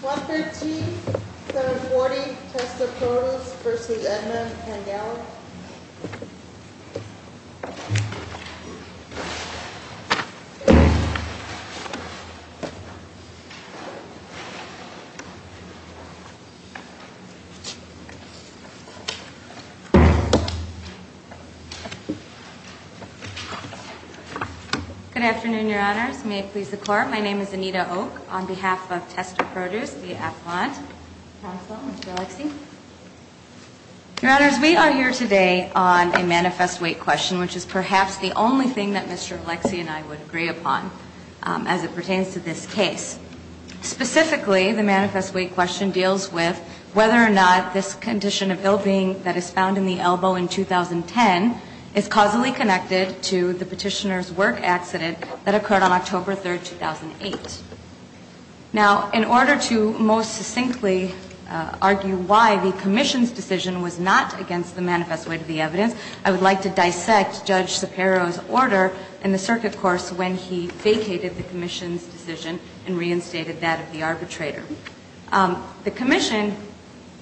115-740 Testa Produce v. Edmond & Gallup Good afternoon, Your Honors. May it please the Court, my name is Anita Oak on behalf of Testa Produce v. Appelant. Counsel, would you like to speak? Your Honors, we are here today on a manifest weight question, which is perhaps the only thing that Mr. Alexie and I would agree upon as it pertains to this case. Specifically, the manifest weight question deals with whether or not this condition of ill-being that is found in the elbow in 2010 is causally connected to the petitioner's work accident that occurred on October 3rd, 2008. Now, in order to most succinctly argue why the Commission's decision was not against the manifest weight of the evidence, I would like to dissect Judge Sapero's order in the circuit course when he vacated the Commission's decision and reinstated that of the arbitrator. The Commission,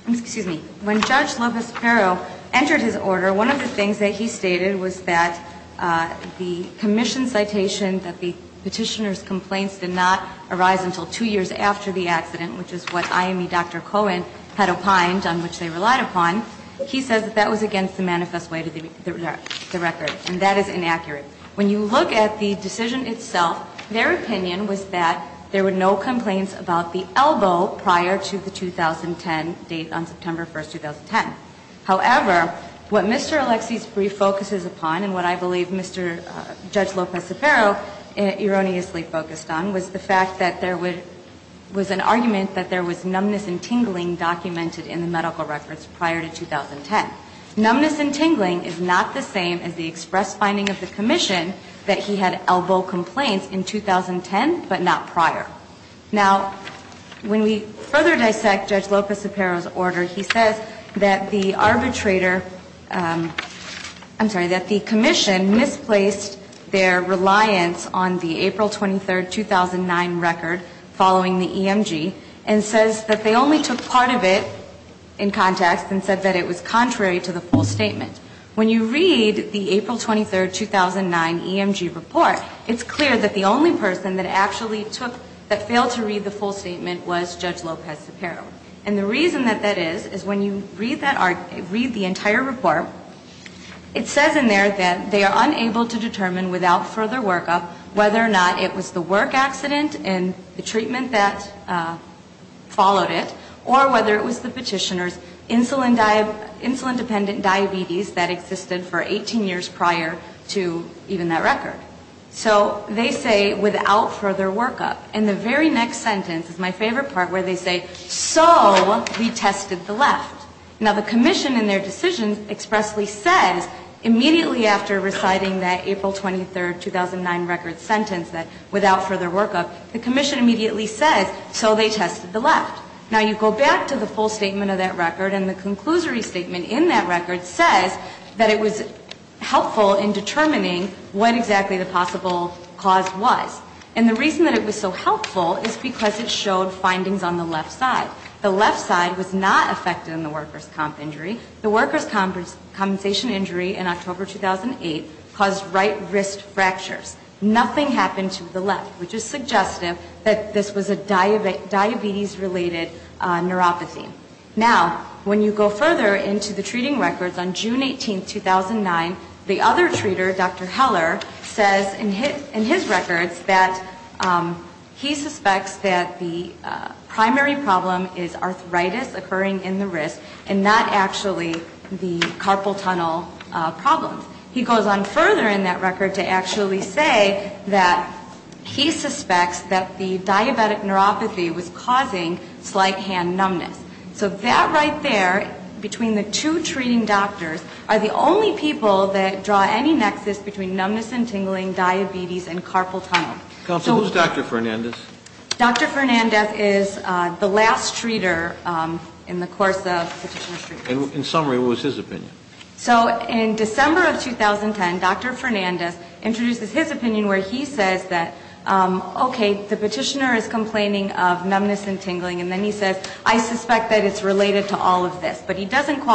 excuse me, when Judge Lopez-Sapero entered his order, one of the things that he stated was that the Commission's citation that the petitioner's complaints did not arise until two years after the accident, which is what IME Dr. Cohen had opined on which they relied upon, he says that that was against the manifest weight of the record, and that is inaccurate. When you look at the decision itself, their opinion was that there were no complaints about the elbow prior to the 2010 date on September 1st, 2010. However, what Mr. Alexie's brief focuses upon and what I believe Mr. Judge Lopez-Sapero has said is that the Commission's decision was not against the elbow prior to the 2010 date on September Now, what Mr. Sapero erroneously focused on was the fact that there was an argument that there was numbness and tingling documented in the medical records prior to 2010. Numbness and tingling is not the same as the express finding of the Commission that he had elbow complaints in 2010, but not prior. Now, when we further dissect Judge Lopez-Sapero's order, he says that the arbitrator I'm sorry, that the Commission misplaced their reliance on the April 23rd, 2009 record following the EMG and says that they only took part of it in context and said that it was contrary to the full statement. When you read the April 23rd, 2009 EMG report, it's clear that the only person that actually took, that failed to read the full statement was Judge Lopez-Sapero. And the reason that that is, is when you read the entire report, it says in there that they are unable to determine without further workup whether or not it was the work accident and the treatment that followed it, or whether it was the petitioner's insulin dependent diabetes that existed for 18 years prior to even that record. So they say without further workup. And the very next sentence is my favorite part where they say, so we tested the left. Now, the Commission in their decision expressly says immediately after reciting that April 23rd, 2009 record sentence that without further workup, the Commission immediately says, so they tested the left. Now, you go back to the full statement of that record and the conclusory statement in that report, what exactly the possible cause was. And the reason that it was so helpful is because it showed findings on the left side. The left side was not affected in the workers' comp injury. The workers' compensation injury in October 2008 caused right wrist fractures. Nothing happened to the left, which is suggestive that this was a diabetes-related neuropathy. Now, when you go further into the treating records on June 18th, 2009, the other treater, Dr. Heller, says in his records that he suspects that the primary problem is arthritis occurring in the wrist and not actually the carpal tunnel problems. He goes on further in that record to actually say that he suspects that the diabetic neuropathy was causing slight hand numbness. So that right there between the two treating doctors are the only people that draw any nexus between numbness and tingling, diabetes, and carpal tunnel. So who's Dr. Fernandez? Dr. Fernandez is the last treater in the course of petitioner treatments. And in summary, what was his opinion? So in December of 2010, Dr. Fernandez introduces his opinion where he says that, okay, the petitioner is complaining of numbness and tingling, and then he says, I suspect that it's related to the diabetes. He doesn't say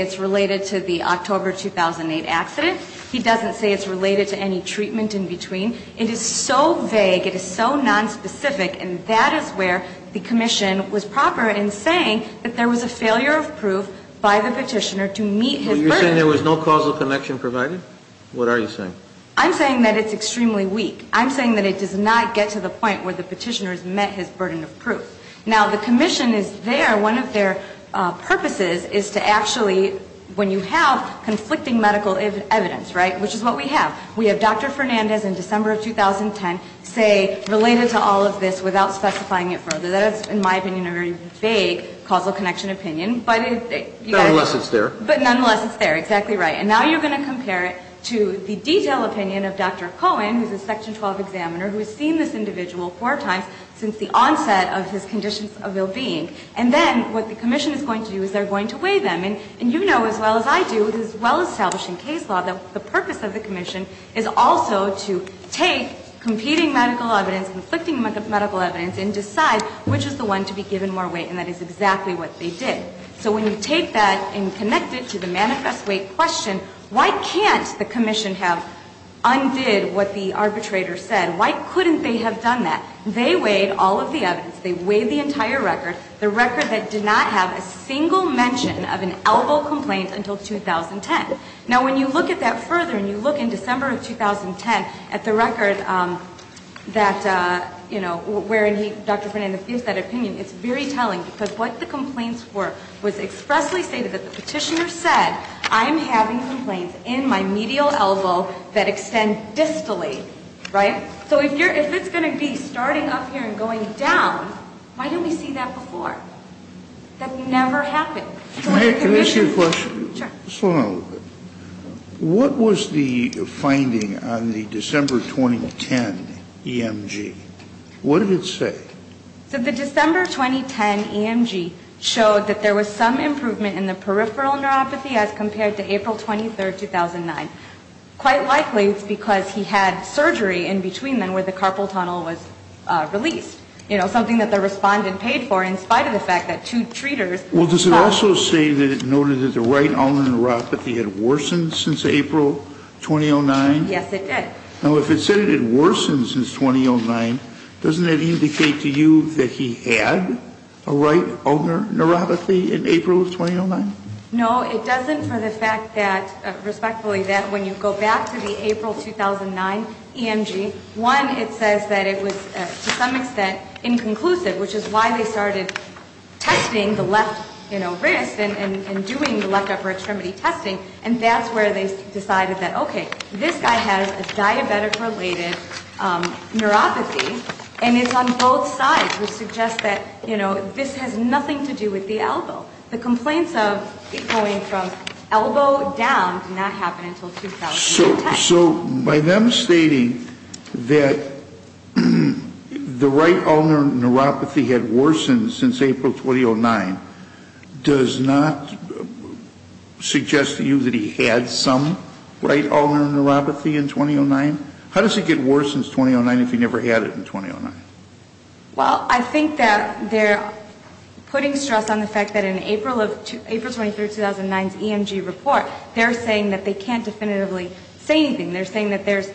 it's related to the October 2008 accident. He doesn't say it's related to any treatment in between. It is so vague, it is so nonspecific, and that is where the commission was proper in saying that there was a failure of proof by the petitioner to meet his burden. Well, you're saying there was no causal connection provided? What are you saying? I'm saying that it's extremely weak. I'm saying that it does not get to the point where the petitioner says there, one of their purposes is to actually, when you have conflicting medical evidence, right, which is what we have. We have Dr. Fernandez in December of 2010 say related to all of this without specifying it further. That is, in my opinion, a very vague causal connection opinion. Nonetheless, it's there. But nonetheless, it's there. Exactly right. And now you're going to compare it to the detailed opinion of Dr. Cohen, who's a Section 12 examiner, who has seen this individual four times since the onset of his conditions of well-being. And then what the commission is going to do is they're going to weigh them. And you know as well as I do, as well as salvaging case law, that the purpose of the commission is also to take competing medical evidence, conflicting medical evidence, and decide which is the one to be given more weight, and that is exactly what they did. So when you take that and connect it to the manifest weight question, why can't the commission weigh that? They weighed all of the evidence. They weighed the entire record, the record that did not have a single mention of an elbow complaint until 2010. Now, when you look at that further and you look in December of 2010 at the record that, you know, where Dr. Fernandez gives that opinion, it's very telling, because what the complaints were was expressly stated that the petitioner said, I'm having complaints in my medial elbow that extend distally, right? So if it's going to be starting up here and going down, why didn't we see that before? That never happened. Can I ask you a question? Sure. Slow down a little bit. What was the finding on the December 2010 EMG? What did it say? So the December 2010 EMG showed that there was some improvement in the peripheral neuropathy as compared to April 23, 2009. Quite likely it's because he had surgery in between then where the carpal tunnel was released, you know, something that the respondent paid for in spite of the fact that two treaters. Well, does it also say that it noted that the right ulnar neuropathy had worsened since April 2009? Yes, it did. Now, if it said it had worsened since 2009, doesn't that indicate to you that he had a right ulnar neuropathy in April of 2009? No, it doesn't for the fact that, respectfully, that when you go back to the April 2009 EMG, one, it says that it was to some extent inconclusive, which is why they started testing the left, you know, wrist and doing the left upper extremity testing, and that's where they decided that, okay, this guy has a diabetic- related neuropathy, and it's on both sides, which suggests that, you know, this has been going from elbow down did not happen until 2010. So by them stating that the right ulnar neuropathy had worsened since April 2009 does not suggest to you that he had some right ulnar neuropathy in 2009? How does it get worse since 2009 if he never had it in 2009? Well, I think that they're putting stress on the fact that in April of, April 23rd 2009's EMG report, they're saying that they can't definitively say anything. They're saying that there's,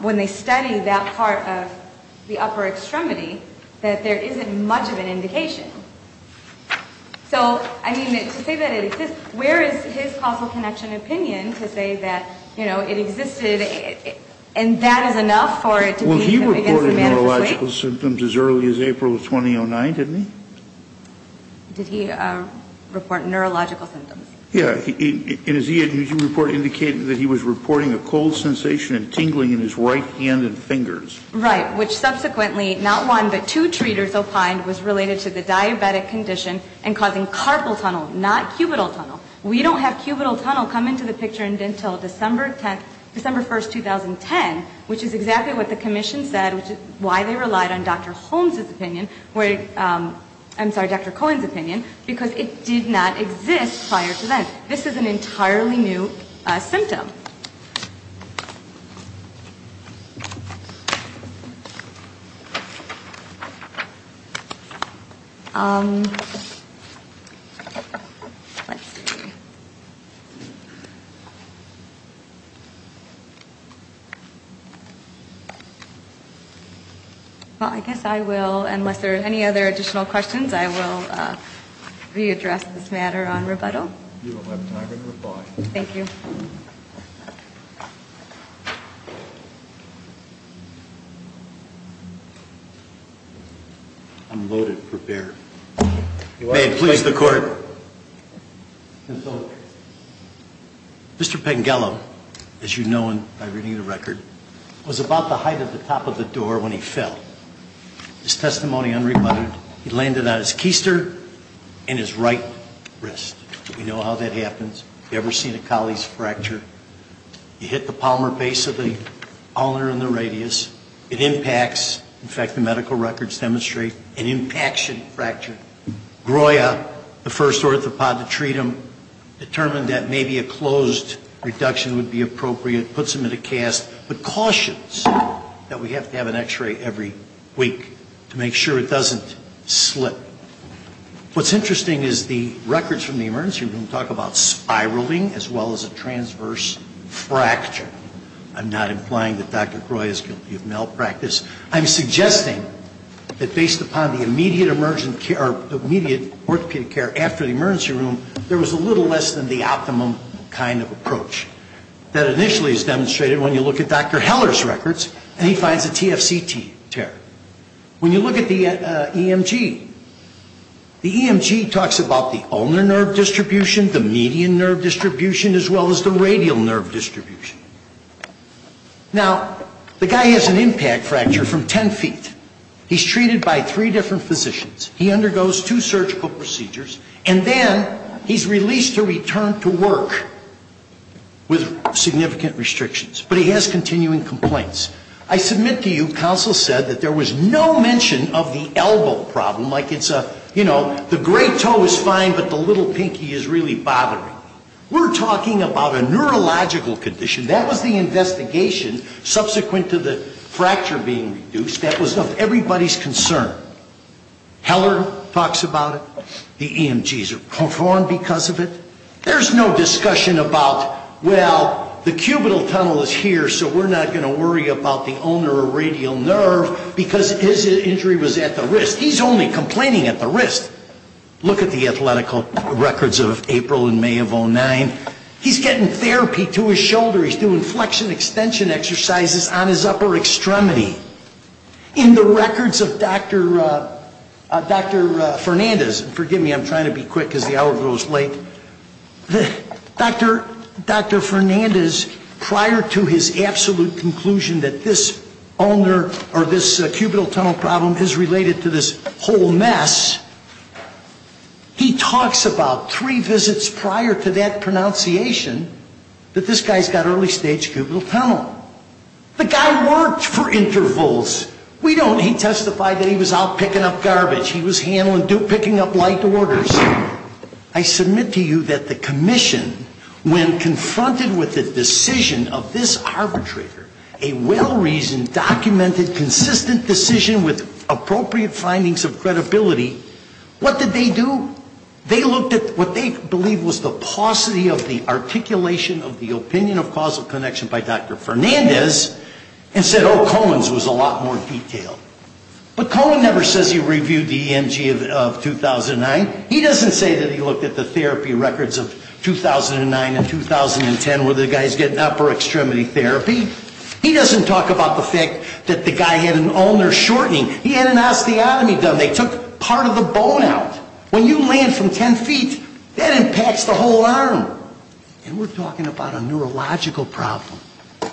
when they study that part of the upper extremity, that there isn't much of an indication. So, I mean, to say that it exists, where is his causal connection opinion to say that, you know, it existed and that is enough for it to be the biggest neurological symptoms as early as April of 2009, didn't he? Did he report neurological symptoms? Yeah. And his EMG report indicated that he was reporting a cold sensation and tingling in his right hand and fingers. Right, which subsequently, not one, but two treaters opined was related to the diabetic condition and causing carpal tunnel, not cubital tunnel. We don't have cubital tunnel come into the picture until December 1st, 2010, which is exactly what the commission said, which is why they relied on Dr. Holmes' opinion, I'm sorry, Dr. Cohen's opinion, because it did not exist prior to then. This is an entirely new symptom. Well, I guess I will, unless there are any other additional questions, I will readdress this matter on rebuttal. Thank you. Unloaded, prepared. May it please the court. Mr. Pengello, as you know by reading the record, was about the height of the top of the door when he fell. His testimony unrebutted. He landed on his keister and his right wrist. We know how that happens. Have you ever seen a colleague's fracture? You hit the palmer base of the ulnar and the radius. It impacts, in fact, the medical records demonstrate an impaction fracture. GROIA, the first orthopod to treat him, determined that maybe a closed reduction would be appropriate, puts him in a cast, but cautions that we have to have an What's interesting is the records from the emergency room talk about spiraling as well as a transverse fracture. I'm not implying that Dr. GROIA is guilty of malpractice. I'm suggesting that based upon the immediate orthopedic care after the emergency room, there was a little less than the optimum kind of approach. That initially is demonstrated when you look at Dr. Heller's records, and he finds a TFCT tear. When you look at the EMG, the EMG talks about the ulnar nerve distribution, the median nerve distribution, as well as the radial nerve distribution. Now, the guy has an impact fracture from 10 feet. He's treated by three different physicians. He undergoes two surgical procedures, and then he's released to return to work with significant restrictions. But he has continuing complaints. I submit to you counsel said that there was no mention of the elbow problem, like it's a, you know, the great toe is fine, but the little pinky is really bothering. We're talking about a neurological condition. That was the investigation subsequent to the fracture being reduced. That was of everybody's concern. Heller talks about it. The EMGs are performed because of it. There's no discussion about, well, the cubital tunnel is here, so we're not going to worry about the ulnar or radial nerve because his injury was at the wrist. He's only complaining at the wrist. Look at the athletic records of April and May of 09. He's getting therapy to his shoulder. He's doing flexion extension exercises on his upper extremity. In the records of Dr. Fernandez, forgive me, I'm trying to be quick because the hour goes late. Dr. Fernandez, prior to his absolute conclusion that this ulnar or this cubital tunnel problem is related to this whole mess, he talks about three visits prior to that pronunciation that this guy's got early stage cubital tunnel. The guy worked for intervals. We don't. He testified that he was out picking up garbage. He was handling, picking up light orders. I submit to you that the commission, when confronted with the decision of this arbitrator, a well-reasoned, documented, consistent decision with appropriate findings of credibility, what did they do? They looked at what they believed was the paucity of the articulation of the opinion of causal connection by Dr. Fernandez and said, oh, Cohen's was a lot more detailed. But Cohen never says he reviewed the EMG of 2009. He doesn't say that he looked at the therapy records of 2009 and 2010 where the guy's getting upper extremity therapy. He doesn't talk about the fact that the guy had an ulnar shortening. He had an osteotomy done. They took part of the bone out. When you land from 10 feet, that impacts the whole arm. And we're talking about a neurological problem.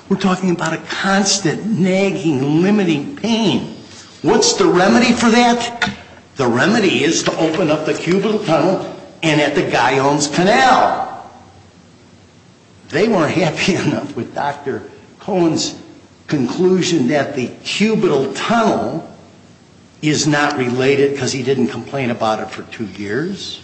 We're talking about a constant, nagging, limiting pain. What's the remedy for that? The remedy is to open up the cubital tunnel and at the guy owns canal. They weren't happy enough with Dr. Cohen's conclusion that the cubital tunnel is not related because he didn't complain about it for two years.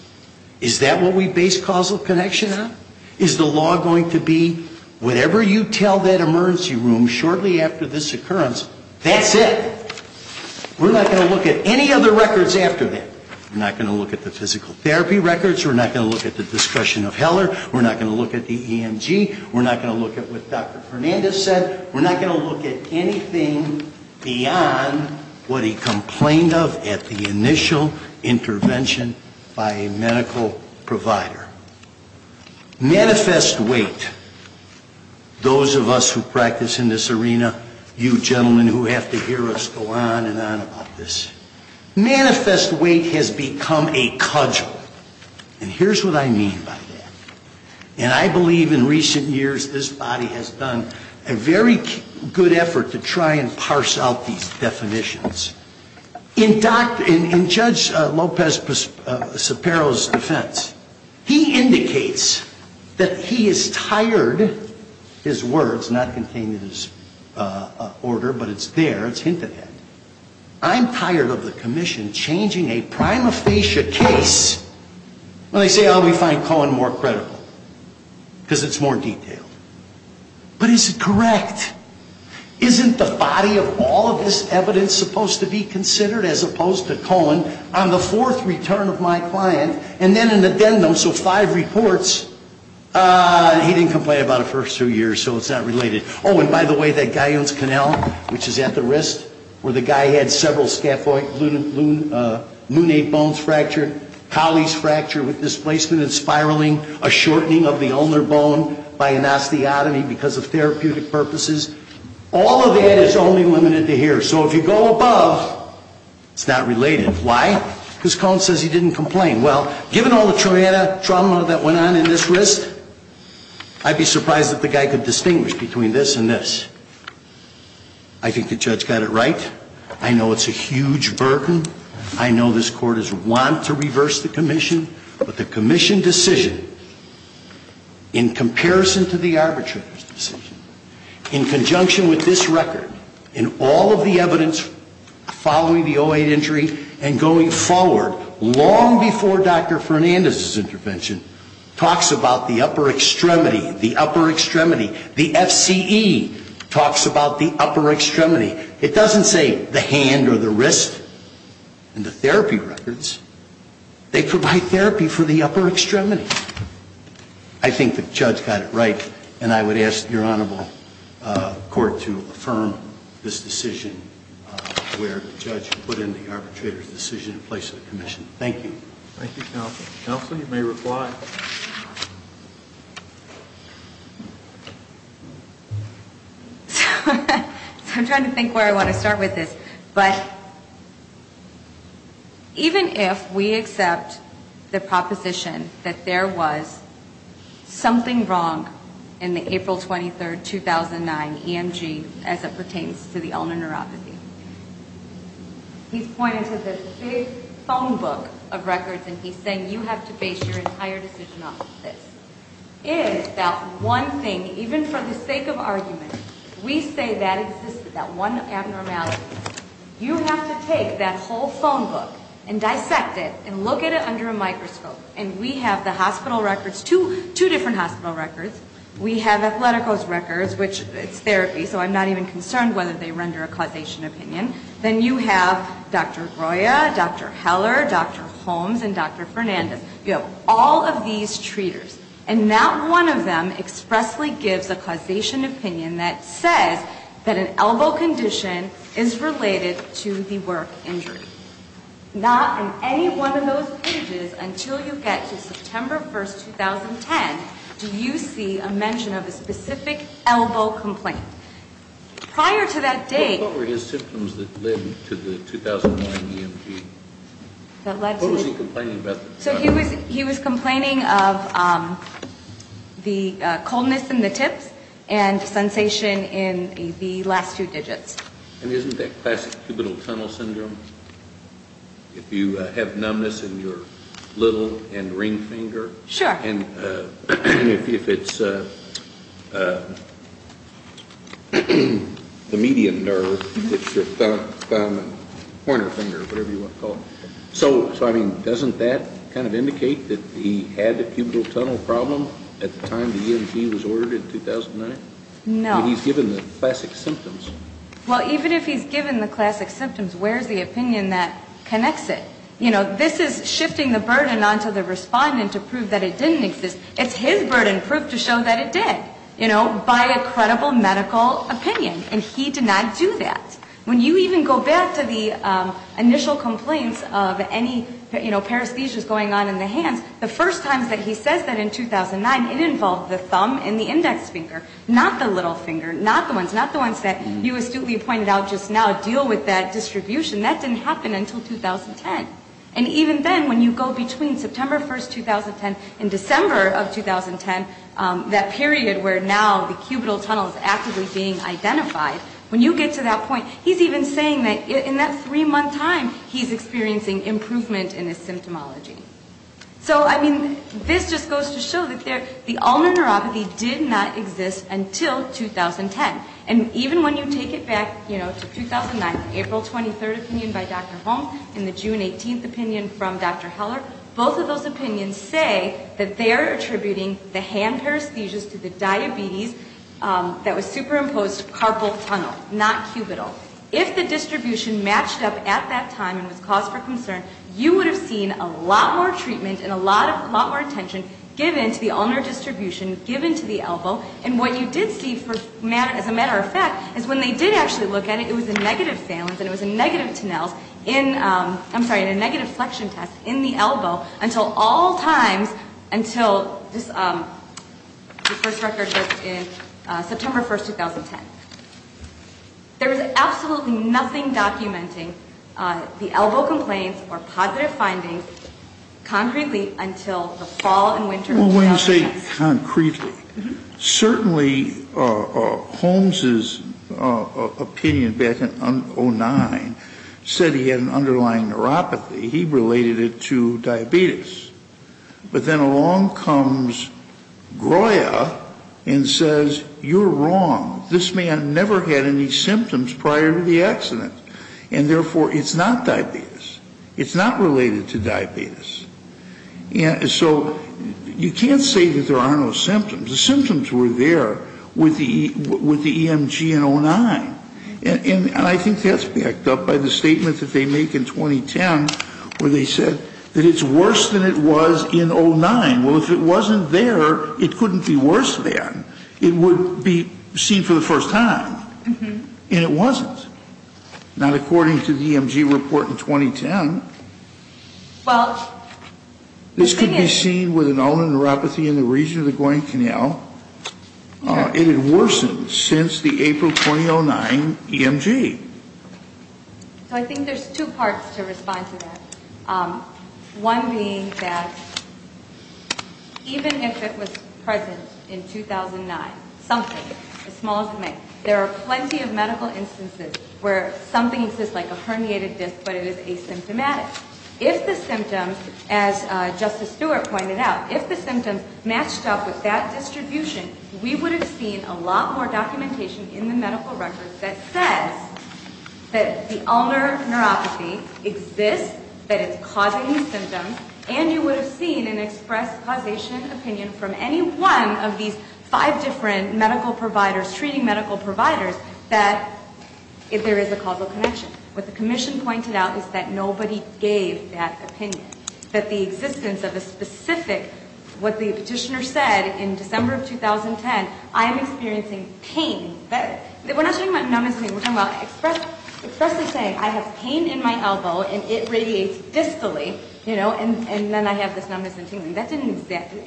Is that what we base causal connection on? Is the law going to be whatever you tell that emergency room shortly after this occurrence, that's it? We're not going to look at any other records after that. We're not going to look at the physical therapy records. We're not going to look at the discretion of Heller. We're not going to look at the EMG. We're not going to look at what Dr. Fernandez said. We're not going to look at anything beyond what he complained of at the initial intervention by a medical provider. Manifest weight. Those of us who practice in this arena, you gentlemen who have to hear us go on and on about this. Manifest weight has become a cudgel. And here's what I mean by that. And I believe in recent years this body has done a very good effort to try and parse out these definitions. In Judge Lopez-Sapero's defense, he indicates that he is tired, his words not contained in his order, but it's there, it's hinted at. I'm tired of the commission changing a prima facie case when they say, oh, we find Cohen more credible because it's more detailed. But is it correct? Isn't the body of all of this evidence supposed to be considered as opposed to Cohen on the fourth return of my client? And then an addendum, so five reports. He didn't complain about it for a few years, so it's not related. Oh, and by the way, that Guyon's Canal, which is at the wrist, where the guy had several scaphoid lunate bones fractured, Colley's fracture with displacement and spiraling, a shortening of the ulnar bone by an osteotomy because of therapeutic purposes, all of that is only limited to here. So if you go above, it's not related. Why? Because Cohen says he didn't complain. Well, given all the trauma that went on in this wrist, I'd be surprised if the guy could distinguish between this and this. I think the judge got it right. I know it's a huge burden. I know this Court is wont to reverse the commission. But the commission decision, in comparison to the arbitrator's decision, in conjunction with this record, in all of the evidence following the 08 injury and going forward, long before Dr. Fernandez's intervention, talks about the upper extremity, the upper extremity. The FCE talks about the upper extremity. It doesn't say the hand or the wrist in the therapy records. They provide therapy for the upper extremity. I think the judge got it right, and I would ask your Honorable Court to affirm this decision where the judge put in the arbitrator's decision in place of the commission. Thank you. Thank you, Counsel. Counsel, you may reply. I'm trying to think where I want to start with this, but even if we accept the proposition that there was something wrong in the April 23, 2009 EMG as it pertains to the ulnar neuropathy, he's pointing to this big phone book of this, is that one thing, even for the sake of argument, we say that existed, that one abnormality. You have to take that whole phone book and dissect it and look at it under a microscope. And we have the hospital records, two different hospital records. We have Athletico's records, which it's therapy, so I'm not even concerned whether they render a causation opinion. Then you have Dr. Groya, Dr. Heller, Dr. Holmes, and Dr. Fernandez. You have all of these treaters, and not one of them expressly gives a causation opinion that says that an elbow condition is related to the work injury. Not in any one of those pages until you get to September 1, 2010, do you see a mention of a specific elbow complaint. Prior to that date What were his symptoms that led to the 2009 EMG? What was he complaining about? He was complaining of the coldness in the tips and sensation in the last two digits. And isn't that classic cubital tunnel syndrome, if you have numbness in your little and ring finger? Sure. And if it's the median nerve, it's your thumb and pointer finger, whatever you want to call it. So, I mean, doesn't that kind of indicate that he had a cubital tunnel problem at the time the EMG was ordered in 2009? No. But he's given the classic symptoms. Well, even if he's given the classic symptoms, where's the opinion that connects it? You know, this is shifting the burden onto the respondent to prove that it didn't exist. It's his burden proved to show that it did, you know, by a credible medical opinion. And he did not do that. When you even go back to the initial complaints of any, you know, paresthesias going on in the hands, the first times that he says that in 2009, it involved the thumb and the index finger, not the little finger, not the ones, not the ones that you astutely pointed out just now deal with that distribution. That didn't happen until 2010. And even then, when you go between September 1st, 2010 and December of 2010, that period where now the cubital tunnel is actively being identified, when you get to that point, he's even saying that in that three-month time, he's experiencing improvement in his symptomology. So, I mean, this just goes to show that the ulnar neuropathy did not exist until 2010. And even when you take it back, you know, to 2009, the April 23rd opinion by Dr. Holm and the June 18th opinion from Dr. Heller, both of those opinions say that they are attributing the hand paresthesias to the diabetes that was superimposed carpal tunnel, not cubital. If the distribution matched up at that time and was cause for concern, you would have seen a lot more treatment and a lot more attention given to the ulnar distribution, given to the elbow. And what you did see, as a matter of fact, is when they did actually look at it, it was a negative phalanx and it was a negative tennels in, I'm sorry, in a negative flexion test in the elbow until all times until this, the first record that's in September 1st, 2010. There was absolutely nothing documenting the elbow complaints or positive findings concretely until the fall and winter. Well, when you say concretely, certainly Holm's opinion back in 2009 said he had an underlying neuropathy. He related it to diabetes. But then along comes Groya and says, you're wrong. This man never had any symptoms prior to the accident. And therefore, it's not diabetes. It's not related to diabetes. So you can't say that there are no symptoms. The symptoms were there with the EMG in 09. And I think that's backed up by the statement that they make in 2010 where they said that it's worse than it was in 09. Well, if it wasn't there, it couldn't be worse than. It would be seen for the first time. And it wasn't. Now, according to the EMG report in 2010, this could be seen with an underlying neuropathy in the region of the going canal. It had worsened since the April 2009 EMG. So I think there's two parts to respond to that. One being that even if it was present in 2009, something, as small as it may, there are plenty of medical instances where something exists like a herniated disc, but it is asymptomatic. If the symptoms, as Justice Stewart pointed out, if the symptoms matched up with that distribution, we would have seen a lot more documentation in the past that the ulnar neuropathy exists, that it's causing the symptoms, and you would have seen an express causation opinion from any one of these five different medical providers, treating medical providers, that there is a causal connection. What the commission pointed out is that nobody gave that opinion, that the existence of a specific, what the petitioner said in December of 2010, I am experiencing pain. We're not talking about numbness and tingling. We're talking about expressly saying I have pain in my elbow, and it radiates distally, you know, and then I have this numbness and tingling. That didn't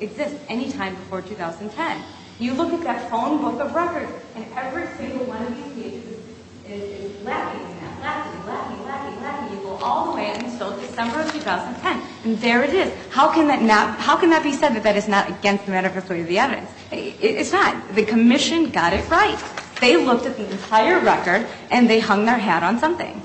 exist any time before 2010. You look at that phone book of records, and every single one of these pages is lacking right now, lacking, lacking, lacking, lacking, all the way until December of 2010. And there it is. How can that be said that that is not against the matter of the evidence? It's not. The commission got it right. They looked at the entire record, and they hung their hat on something.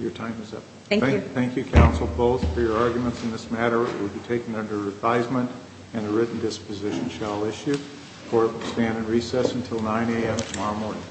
Your time is up. Thank you. Thank you, Counsel Bowles, for your arguments in this matter. It will be taken under advisement, and a written disposition shall issue. Court will stand in recess until 9 a.m. tomorrow morning.